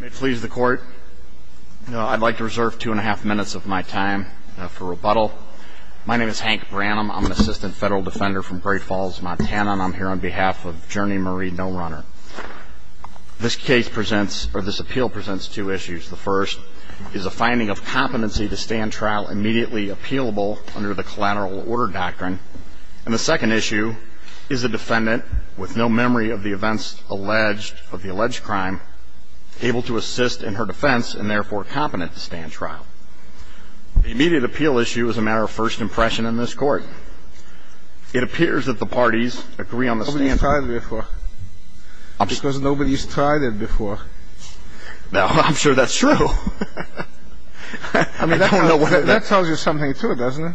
May it please the court. I'd like to reserve two and a half minutes of my time for rebuttal. My name is Hank Branham. I'm an assistant federal defender from Great Falls, Montana, and I'm here on behalf of Journey Marie No Runner. This appeal presents two issues. The first is a finding of competency to stand trial immediately appealable under the collateral order doctrine. And the second issue is the defendant, with no memory of the events of the alleged crime, able to assist in her defense and, therefore, competent to stand trial. The immediate appeal issue is a matter of first impression in this court. It appears that the parties agree on the standard. Nobody's tried it before. Because nobody's tried it before. I'm sure that's true. That tells you something, too, doesn't it?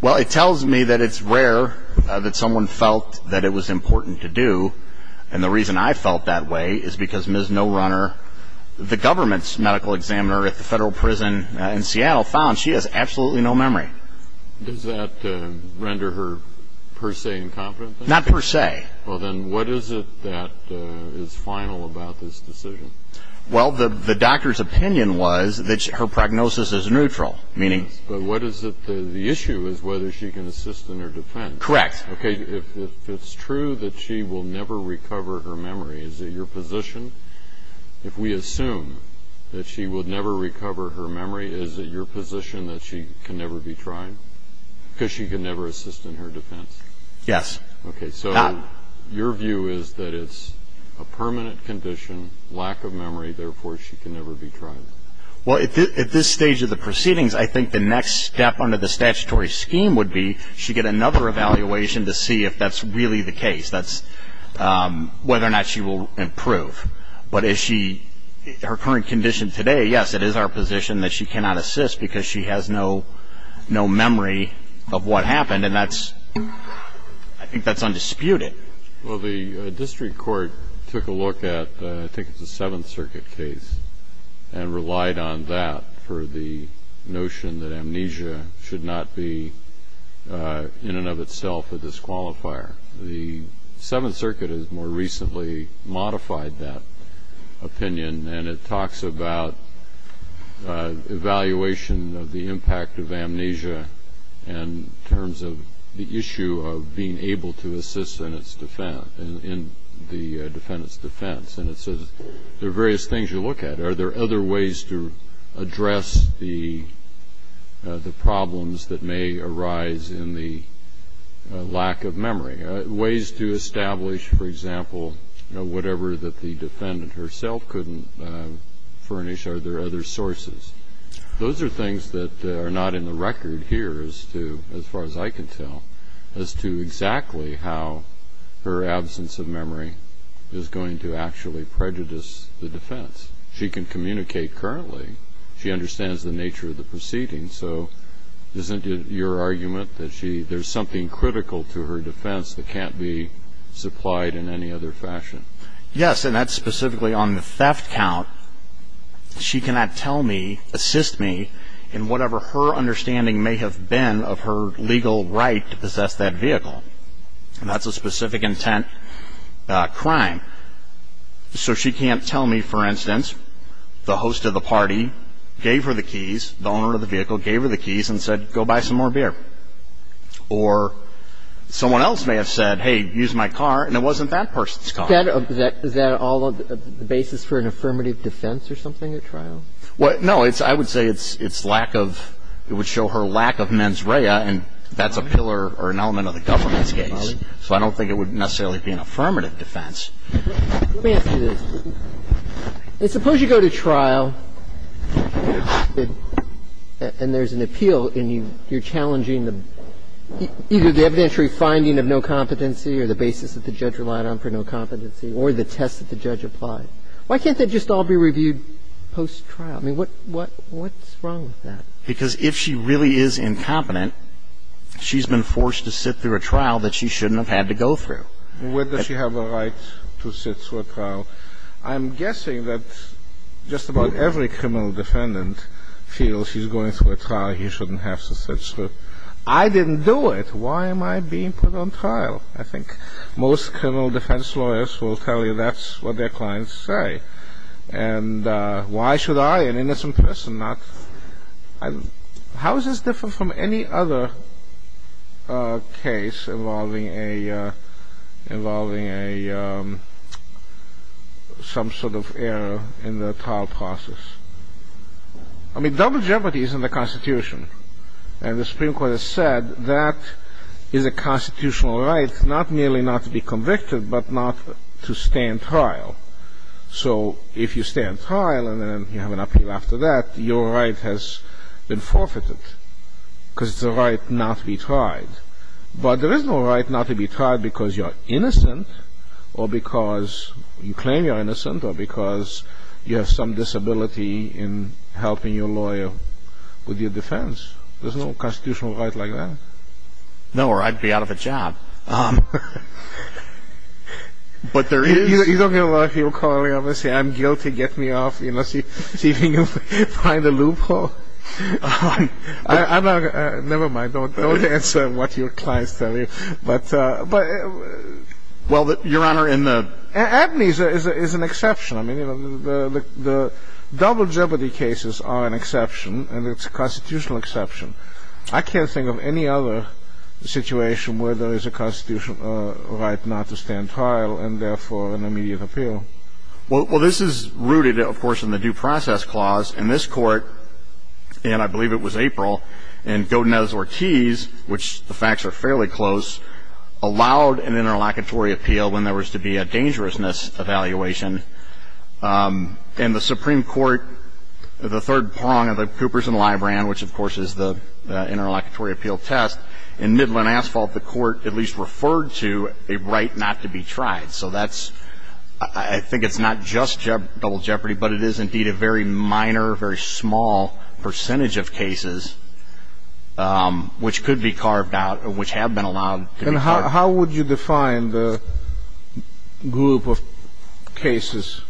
Well, it tells me that it's rare that someone felt that it was important to do, and the reason I felt that way is because Ms. No Runner, the government's medical examiner at the federal prison in Seattle, found she has absolutely no memory. Does that render her per se incompetent? Not per se. Well, then what is it that is final about this decision? Well, the doctor's opinion was that her prognosis is neutral, meaning But what is the issue is whether she can assist in her defense. Correct. Okay, if it's true that she will never recover her memory, is it your position, if we assume that she will never recover her memory, is it your position that she can never be tried because she can never assist in her defense? Yes. Okay, so your view is that it's a permanent condition, lack of memory, therefore she can never be tried. Well, at this stage of the proceedings, I think the next step under the statutory scheme would be she get another evaluation to see if that's really the case, that's whether or not she will improve. But her current condition today, yes, it is our position that she cannot assist because she has no memory of what happened, and I think that's undisputed. Well, the district court took a look at I think it's a Seventh Circuit case and relied on that for the notion that amnesia should not be in and of itself a disqualifier. The Seventh Circuit has more recently modified that opinion, and it talks about evaluation of the impact of amnesia in terms of the issue of being able to assist in the defendant's defense. And it says there are various things you look at. Are there other ways to address the problems that may arise in the lack of memory, ways to establish, for example, whatever that the defendant herself couldn't furnish? Are there other sources? Those are things that are not in the record here as far as I can tell as to exactly how her absence of memory is going to actually prejudice the defense. She can communicate currently. She understands the nature of the proceedings. So isn't it your argument that there's something critical to her defense that can't be supplied in any other fashion? Yes, and that's specifically on the theft count. She cannot tell me, assist me, and whatever her understanding may have been of her legal right to possess that vehicle. And that's a specific intent crime. So she can't tell me, for instance, the host of the party gave her the keys, the owner of the vehicle gave her the keys and said, go buy some more beer. Or someone else may have said, hey, use my car, and it wasn't that person's car. Is that all the basis for an affirmative defense or something at trial? Well, no. I would say it's lack of ‑‑ it would show her lack of mens rea, and that's a pillar or an element of the government's case. So I don't think it would necessarily be an affirmative defense. Let me ask you this. Suppose you go to trial, and there's an appeal, and you're challenging either the evidentiary finding of no competency or the basis that the judge relied on for no competency or the test that the judge applied. Why can't they just all be reviewed post-trial? I mean, what's wrong with that? Because if she really is incompetent, she's been forced to sit through a trial that she shouldn't have had to go through. Well, where does she have a right to sit through a trial? I'm guessing that just about every criminal defendant feels he's going through a trial he shouldn't have to sit through. I didn't do it. Why am I being put on trial? Well, I think most criminal defense lawyers will tell you that's what their clients say. And why should I, an innocent person, not ‑‑ how is this different from any other case involving a ‑‑ involving a ‑‑ some sort of error in the trial process? I mean, double jeopardy is in the Constitution. And the Supreme Court has said that is a constitutional right, not merely not to be convicted but not to stay in trial. So if you stay in trial and then you have an appeal after that, your right has been forfeited because it's a right not to be tried. But there is no right not to be tried because you're innocent or because you claim you're innocent or because you have some disability in helping your lawyer with your defense. There's no constitutional right like that. No, or I'd be out of a job. But there is ‑‑ You don't get a lot of people calling up and saying, I'm guilty, get me off, you know, see if you can find a loophole. I'm not ‑‑ never mind, don't answer what your clients tell you. But ‑‑ Well, Your Honor, in the ‑‑ Abney's is an exception. I mean, you know, the double jeopardy cases are an exception and it's a constitutional exception. I can't think of any other situation where there is a constitutional right not to stay in trial and, therefore, an immediate appeal. Well, this is rooted, of course, in the Due Process Clause. And this Court, and I believe it was April, and Godinez-Ortiz, which the facts are fairly close, allowed an interlocutory appeal when there was to be a dangerousness evaluation. And the Supreme Court, the third prong of the Coopers and Librand, which, of course, is the interlocutory appeal test, in Midland Asphalt, the Court at least referred to a right not to be tried. So that's ‑‑ I think it's not just double jeopardy, but it is, indeed, a very minor, very small percentage of cases which could be carved out or which have been allowed to be carved out. And how would you define the group of cases?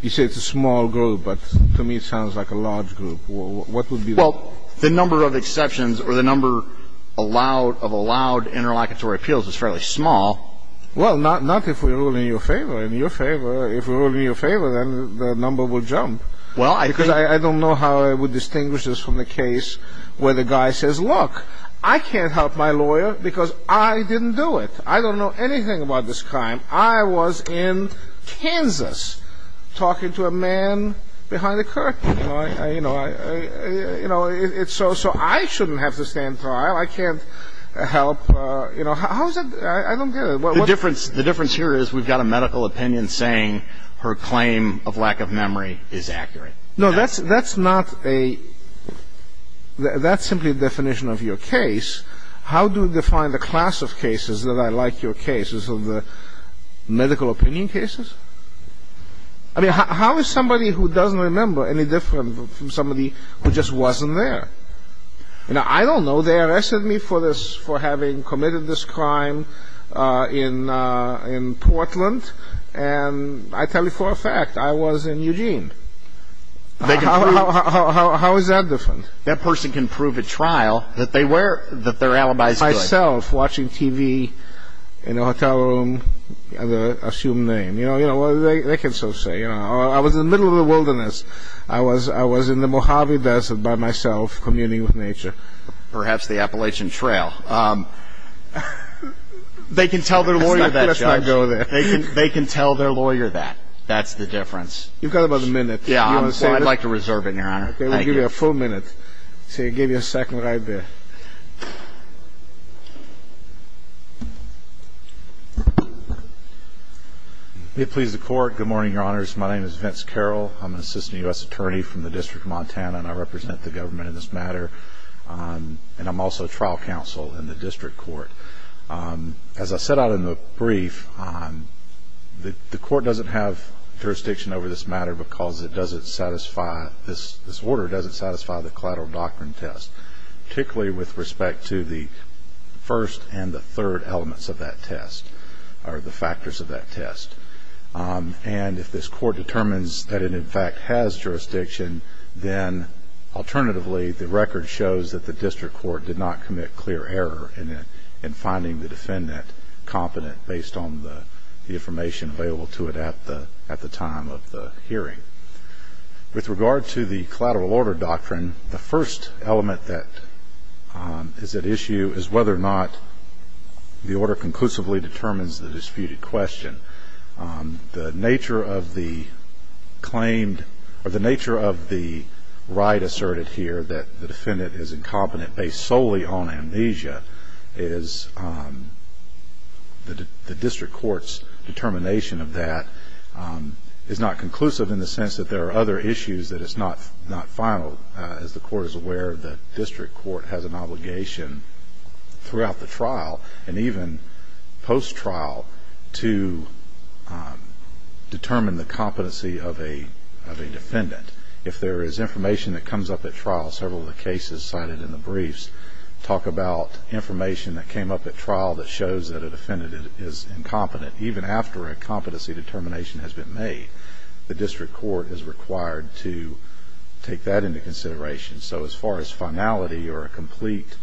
You say it's a small group, but to me it sounds like a large group. What would be the ‑‑ Well, the number of exceptions or the number of allowed interlocutory appeals is fairly small. Well, not if we rule in your favor. In your favor, if we rule in your favor, then the number will jump. Because I don't know how I would distinguish this from the case where the guy says, look, I can't help my lawyer because I didn't do it. I don't know anything about this crime. I was in Kansas talking to a man behind a curtain. You know, so I shouldn't have to stand trial. I can't help. How is that ‑‑ I don't get it. The difference here is we've got a medical opinion saying her claim of lack of memory is accurate. No, that's not a ‑‑ that's simply a definition of your case. How do you define the class of cases that are like your cases of the medical opinion cases? I mean, how is somebody who doesn't remember any different from somebody who just wasn't there? Now, I don't know. They arrested me for this, for having committed this crime in Portland. And I tell you for a fact, I was in Eugene. How is that different? That person can prove at trial that they're alibis good. Myself, watching TV in a hotel room, the assumed name. You know, they can so say. I was in the middle of the wilderness. I was in the Mojave Desert by myself, communing with nature. Perhaps the Appalachian Trail. They can tell their lawyer that. Let's not go there. They can tell their lawyer that. That's the difference. You've got about a minute. Yeah, I'd like to reserve it, Your Honor. I'll give you a full minute. I'll give you a second right there. May it please the Court. Good morning, Your Honors. My name is Vince Carroll. I'm an assistant U.S. attorney from the District of Montana, and I represent the government in this matter. And I'm also a trial counsel in the District Court. As I set out in the brief, the Court doesn't have jurisdiction over this matter because this order doesn't satisfy the collateral doctrine test, particularly with respect to the first and the third elements of that test, or the factors of that test. And if this Court determines that it, in fact, has jurisdiction, then alternatively the record shows that the District Court did not commit clear error in finding the defendant competent based on the information available to it at the time of the hearing. With regard to the collateral order doctrine, the first element that is at issue is whether or not the order conclusively determines the disputed question. The nature of the claim, or the nature of the right asserted here, that the defendant is incompetent based solely on amnesia is the District Court's determination of that. It's not conclusive in the sense that there are other issues that it's not final. As the Court is aware, the District Court has an obligation throughout the trial, and even post-trial, to determine the competency of a defendant. If there is information that comes up at trial, several of the cases cited in the briefs talk about information that came up at trial that shows that a defendant is incompetent, even after a competency determination has been made, the District Court is required to take that into consideration. So as far as finality or a complete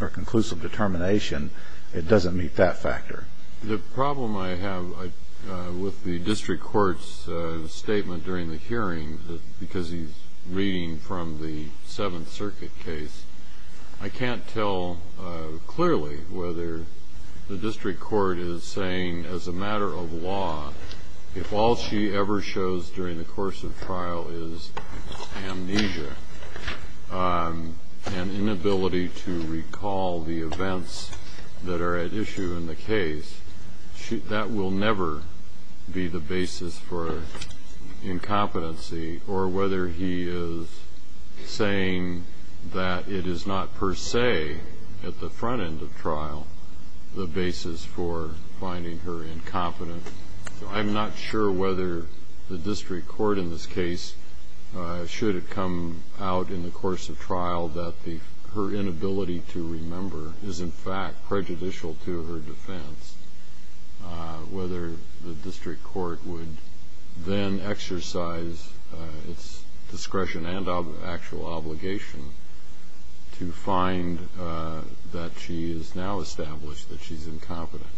or conclusive determination, it doesn't meet that factor. The problem I have with the District Court's statement during the hearing, because he's reading from the Seventh Circuit case, I can't tell clearly whether the District Court is saying, as a matter of law, if all she ever shows during the course of trial is amnesia and inability to recall the events that are at issue in the case, that will never be the basis for incompetency, or whether he is saying that it is not per se, at the front end of trial, the basis for finding her incompetent. So I'm not sure whether the District Court in this case, should it come out in the course of trial that her inability to remember is in fact prejudicial to her defense, whether the District Court would then exercise its discretion and actual obligation to find that she is now established that she's incompetent.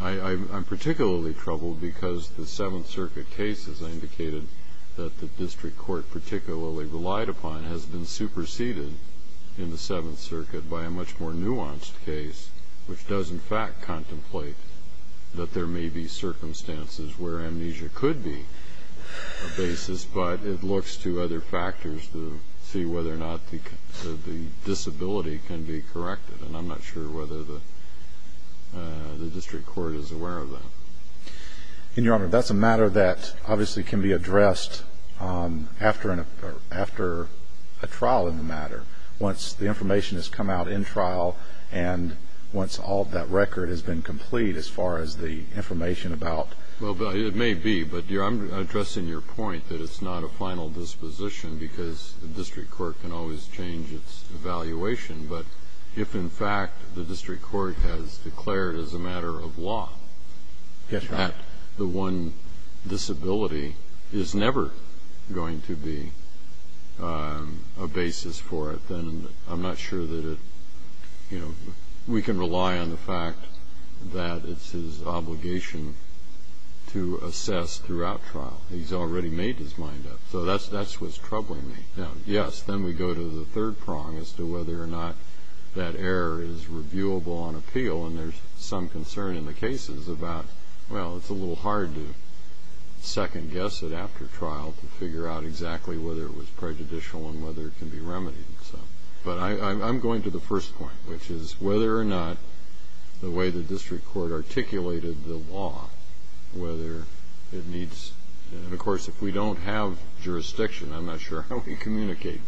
I'm particularly troubled because the Seventh Circuit case, as I indicated, that the District Court particularly relied upon, has been superseded in the Seventh Circuit by a much more nuanced case, which does in fact contemplate that there may be circumstances where amnesia could be a basis, but it looks to other factors to see whether or not the disability can be corrected, and I'm not sure whether the District Court is aware of that. Your Honor, that's a matter that obviously can be addressed after a trial in the matter. Once the information has come out in trial, and once all of that record has been complete as far as the information about Well, it may be, but I'm addressing your point that it's not a final disposition because the District Court can always change its evaluation, but if in fact the District Court has declared as a matter of law that the one disability is never going to be a basis for it, then I'm not sure that we can rely on the fact that it's his obligation to assess throughout trial. He's already made his mind up, so that's what's troubling me. Yes, then we go to the third prong as to whether or not that error is reviewable on appeal, and there's some concern in the cases about, well, it's a little hard to second-guess it after trial to figure out exactly whether it was prejudicial and whether it can be remedied. But I'm going to the first point, which is whether or not the way the District Court articulated the law, whether it needs And, of course, if we don't have jurisdiction, I'm not sure how we communicate.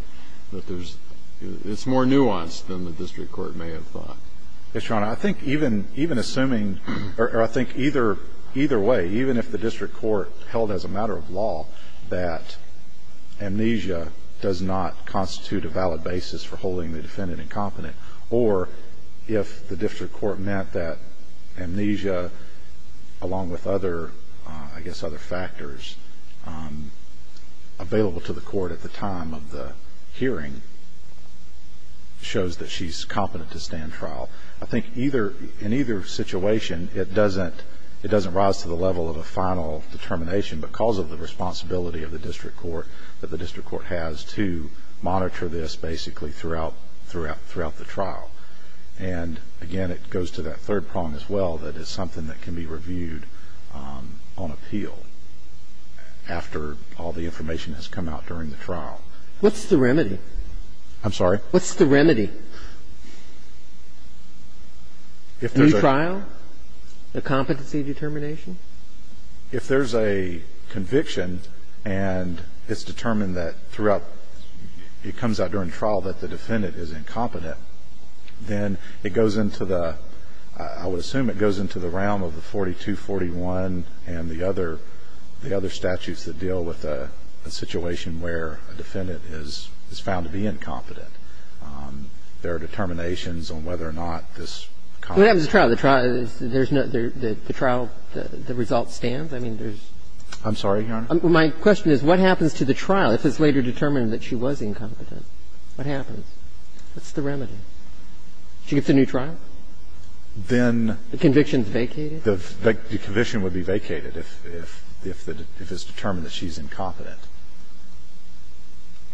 It's more nuanced than the District Court may have thought. Yes, Your Honor. I think even assuming, or I think either way, even if the District Court held as a matter of law that amnesia does not constitute a valid basis for holding the defendant incompetent, or if the District Court meant that amnesia, along with other, I guess, other factors, available to the court at the time of the hearing shows that she's competent to stand trial. I think in either situation it doesn't rise to the level of a final determination because of the responsibility of the District Court, that the District Court has to monitor this basically throughout the trial. And, again, it goes to that third prong as well, that it's something that can be reviewed on appeal after all the information has come out during the trial. What's the remedy? I'm sorry? What's the remedy? If there's a trial, the competency determination? If there's a conviction and it's determined that throughout, it comes out during trial that the defendant is incompetent, then it goes into the, I would assume it goes into the realm of the 4241 and the other, the other statutes that deal with a situation where a defendant is found to be incompetent. There are determinations on whether or not this common... What happens at trial? The trial, there's no, the trial, the result stands? I mean, there's... I'm sorry, Your Honor? My question is what happens to the trial if it's later determined that she was incompetent? What happens? What's the remedy? She gets a new trial? Then... The conviction's vacated? The conviction would be vacated if it's determined that she's incompetent.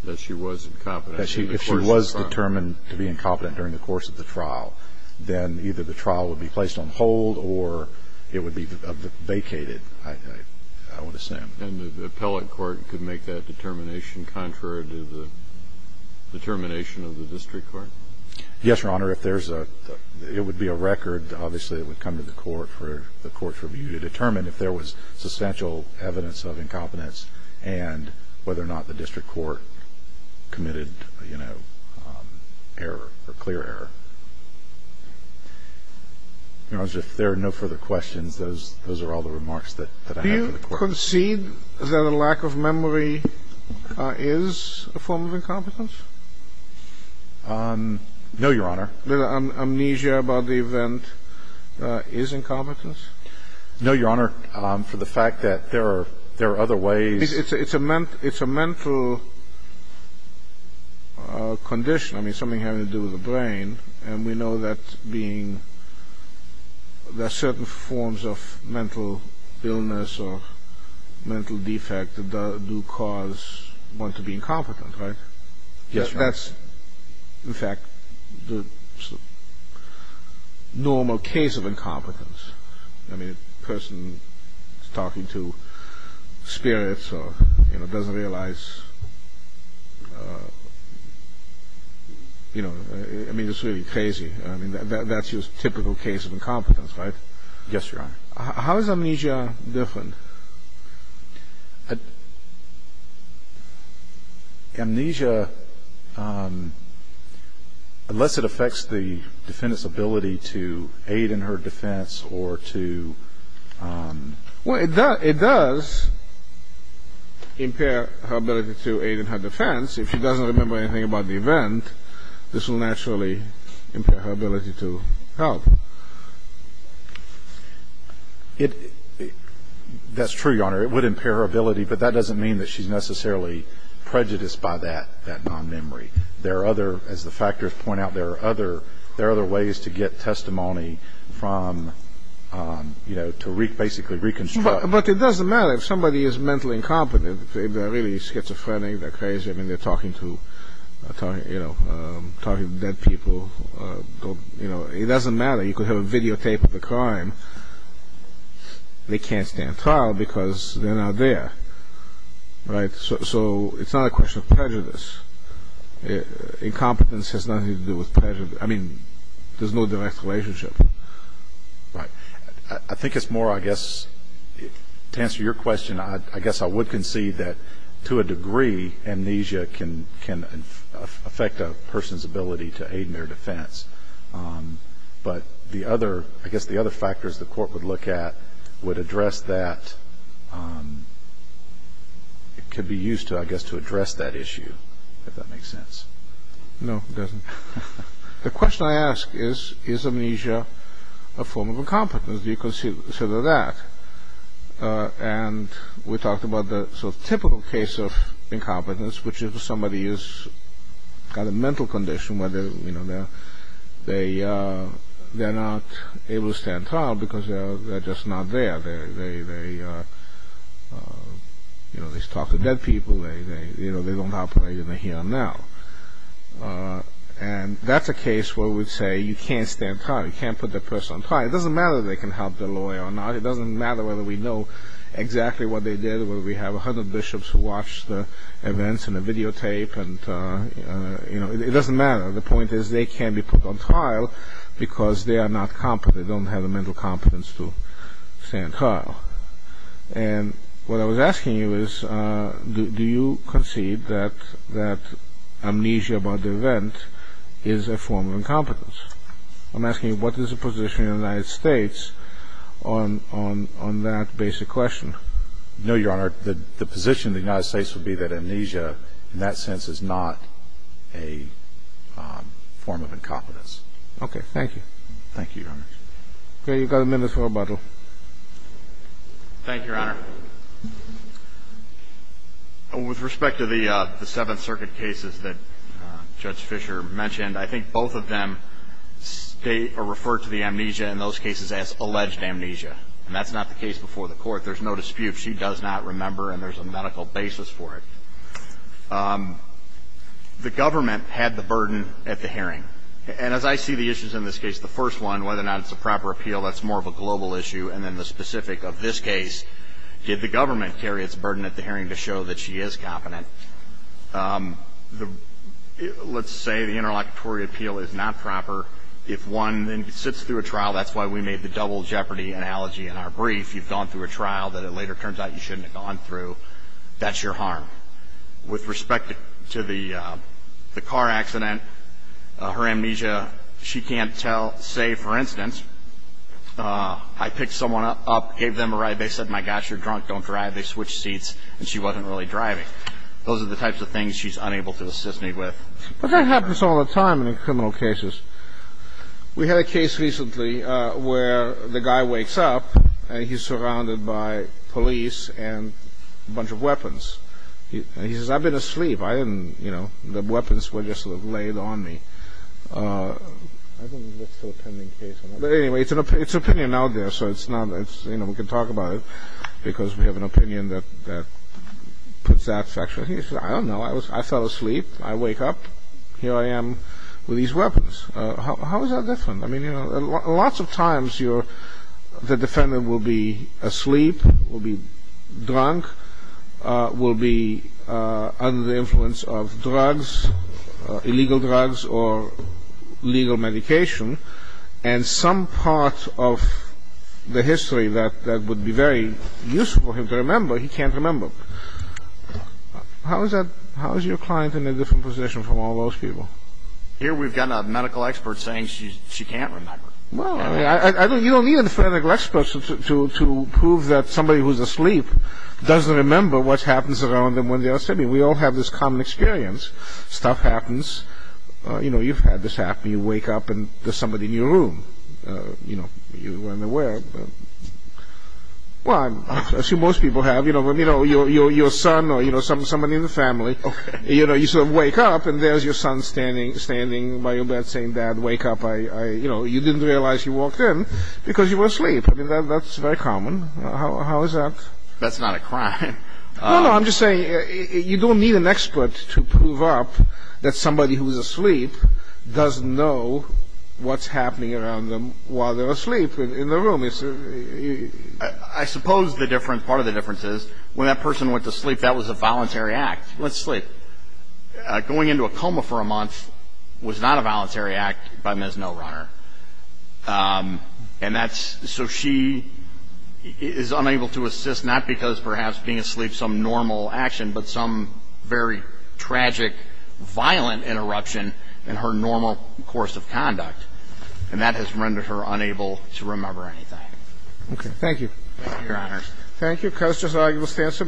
That she was incompetent during the course of the trial? If she was determined to be incompetent during the course of the trial, then either the trial would be placed on hold or it would be vacated, I would assume. And the appellate court could make that determination contrary to the determination of the district court? Yes, Your Honor. If there's a... It would be a record. Obviously, it would come to the court for the court's review to determine if there was substantial evidence of incompetence and whether or not the district court committed, you know, error or clear error. Your Honor, if there are no further questions, those are all the remarks that I have for the court. Do you concede that a lack of memory is a form of incompetence? No, Your Honor. Amnesia about the event is incompetence? No, Your Honor. For the fact that there are other ways... It's a mental condition. I mean, something having to do with the brain. And we know that being... There are certain forms of mental illness or mental defect that do cause one to be incompetent, right? Yes, Your Honor. That's, in fact, the normal case of incompetence. I mean, a person talking to spirits or, you know, doesn't realize... I mean, it's really crazy. I mean, that's your typical case of incompetence, right? Yes, Your Honor. How is amnesia different? Amnesia, unless it affects the defendant's ability to aid in her defense or to... Well, it does impair her ability to aid in her defense. If she doesn't remember anything about the event, this will naturally impair her ability to help. That's true, Your Honor. It would impair her ability, but that doesn't mean that she's necessarily prejudiced by that non-memory. There are other, as the factors point out, there are other ways to get testimony from, you know, to basically reconstruct. But it doesn't matter. If somebody is mentally incompetent, they're really schizophrenic, they're crazy. I mean, they're talking to dead people. It doesn't matter. You could have a videotape of the crime. They can't stand trial because they're not there, right? So it's not a question of prejudice. Incompetence has nothing to do with prejudice. I mean, there's no direct relationship. I think it's more, I guess, to answer your question, I guess I would concede that, to a degree, amnesia can affect a person's ability to aid in their defense. But I guess the other factors the court would look at would address that, could be used to, I guess, to address that issue, if that makes sense. No, it doesn't. The question I ask is, is amnesia a form of incompetence? Do you consider that? And we talked about the sort of typical case of incompetence, which is if somebody has got a mental condition, where they're not able to stand trial because they're just not there. They talk to dead people. They don't operate in the here and now. And that's a case where we'd say you can't stand trial. You can't put that person on trial. It doesn't matter if they can help their lawyer or not. It doesn't matter whether we know exactly what they did, whether we have a hundred bishops who watch the events in a videotape. It doesn't matter. The point is they can't be put on trial because they are not competent. They don't have the mental competence to stand trial. And what I was asking you is, do you concede that amnesia about the event is a form of incompetence? I'm asking you what is the position in the United States on that basic question? No, Your Honor. The position of the United States would be that amnesia in that sense is not a form of incompetence. Okay. Thank you. Thank you, Your Honor. Okay. You've got a minute for rebuttal. Thank you, Your Honor. With respect to the Seventh Circuit cases that Judge Fischer mentioned, I think both of them state or refer to the amnesia in those cases as alleged amnesia. And that's not the case before the Court. There's no dispute. She does not remember, and there's a medical basis for it. The government had the burden at the hearing. And as I see the issues in this case, the first one, whether or not it's a proper appeal, that's more of a global issue. And then the specific of this case, did the government carry its burden at the hearing to show that she is competent? Let's say the interlocutory appeal is not proper. If one then sits through a trial, that's why we made the double jeopardy analogy in our brief. You've gone through a trial that it later turns out you shouldn't have gone through. That's your harm. With respect to the car accident, her amnesia, she can't tell. Say, for instance, I picked someone up, gave them a ride. They said, my gosh, you're drunk, don't drive. They switched seats, and she wasn't really driving. Those are the types of things she's unable to assist me with. But that happens all the time in criminal cases. We had a case recently where the guy wakes up, and he's surrounded by police and a bunch of weapons. And he says, I've been asleep. I didn't, you know, the weapons were just laid on me. I think that's still a pending case. But anyway, it's an opinion out there, so it's not, you know, we can talk about it, because we have an opinion that puts that section. He says, I don't know. I fell asleep. I wake up. Here I am with these weapons. How is that different? I mean, you know, lots of times the defendant will be asleep, will be drunk, will be under the influence of drugs, illegal drugs or legal medication. And some part of the history that would be very useful for him to remember, he can't remember. How is that, how is your client in a different position from all those people? Here we've got a medical expert saying she can't remember. Well, I mean, you don't need a medical expert to prove that somebody who's asleep doesn't remember what happens around them when they're asleep. We all have this common experience. Stuff happens. You know, you've had this happen. You wake up and there's somebody in your room. You know, you weren't aware. Well, I'm sure most people have. You know, your son or, you know, someone in the family, you know, you sort of wake up and there's your son standing by your bed saying, Dad, wake up. You know, you didn't realize you walked in because you were asleep. I mean, that's very common. How is that? That's not a crime. No, no, I'm just saying you don't need an expert to prove up that somebody who's asleep doesn't know what's happening around them while they're asleep in the room. I suppose the difference, part of the difference is when that person went to sleep, that was a voluntary act. Went to sleep. Going into a coma for a month was not a voluntary act by Ms. No Runner. And that's so she is unable to assist, not because perhaps being asleep, some normal action, but some very tragic, violent interruption in her normal course of conduct. And that has rendered her unable to remember anything. Okay, thank you. Thank you, Your Honors. Thank you. Questions?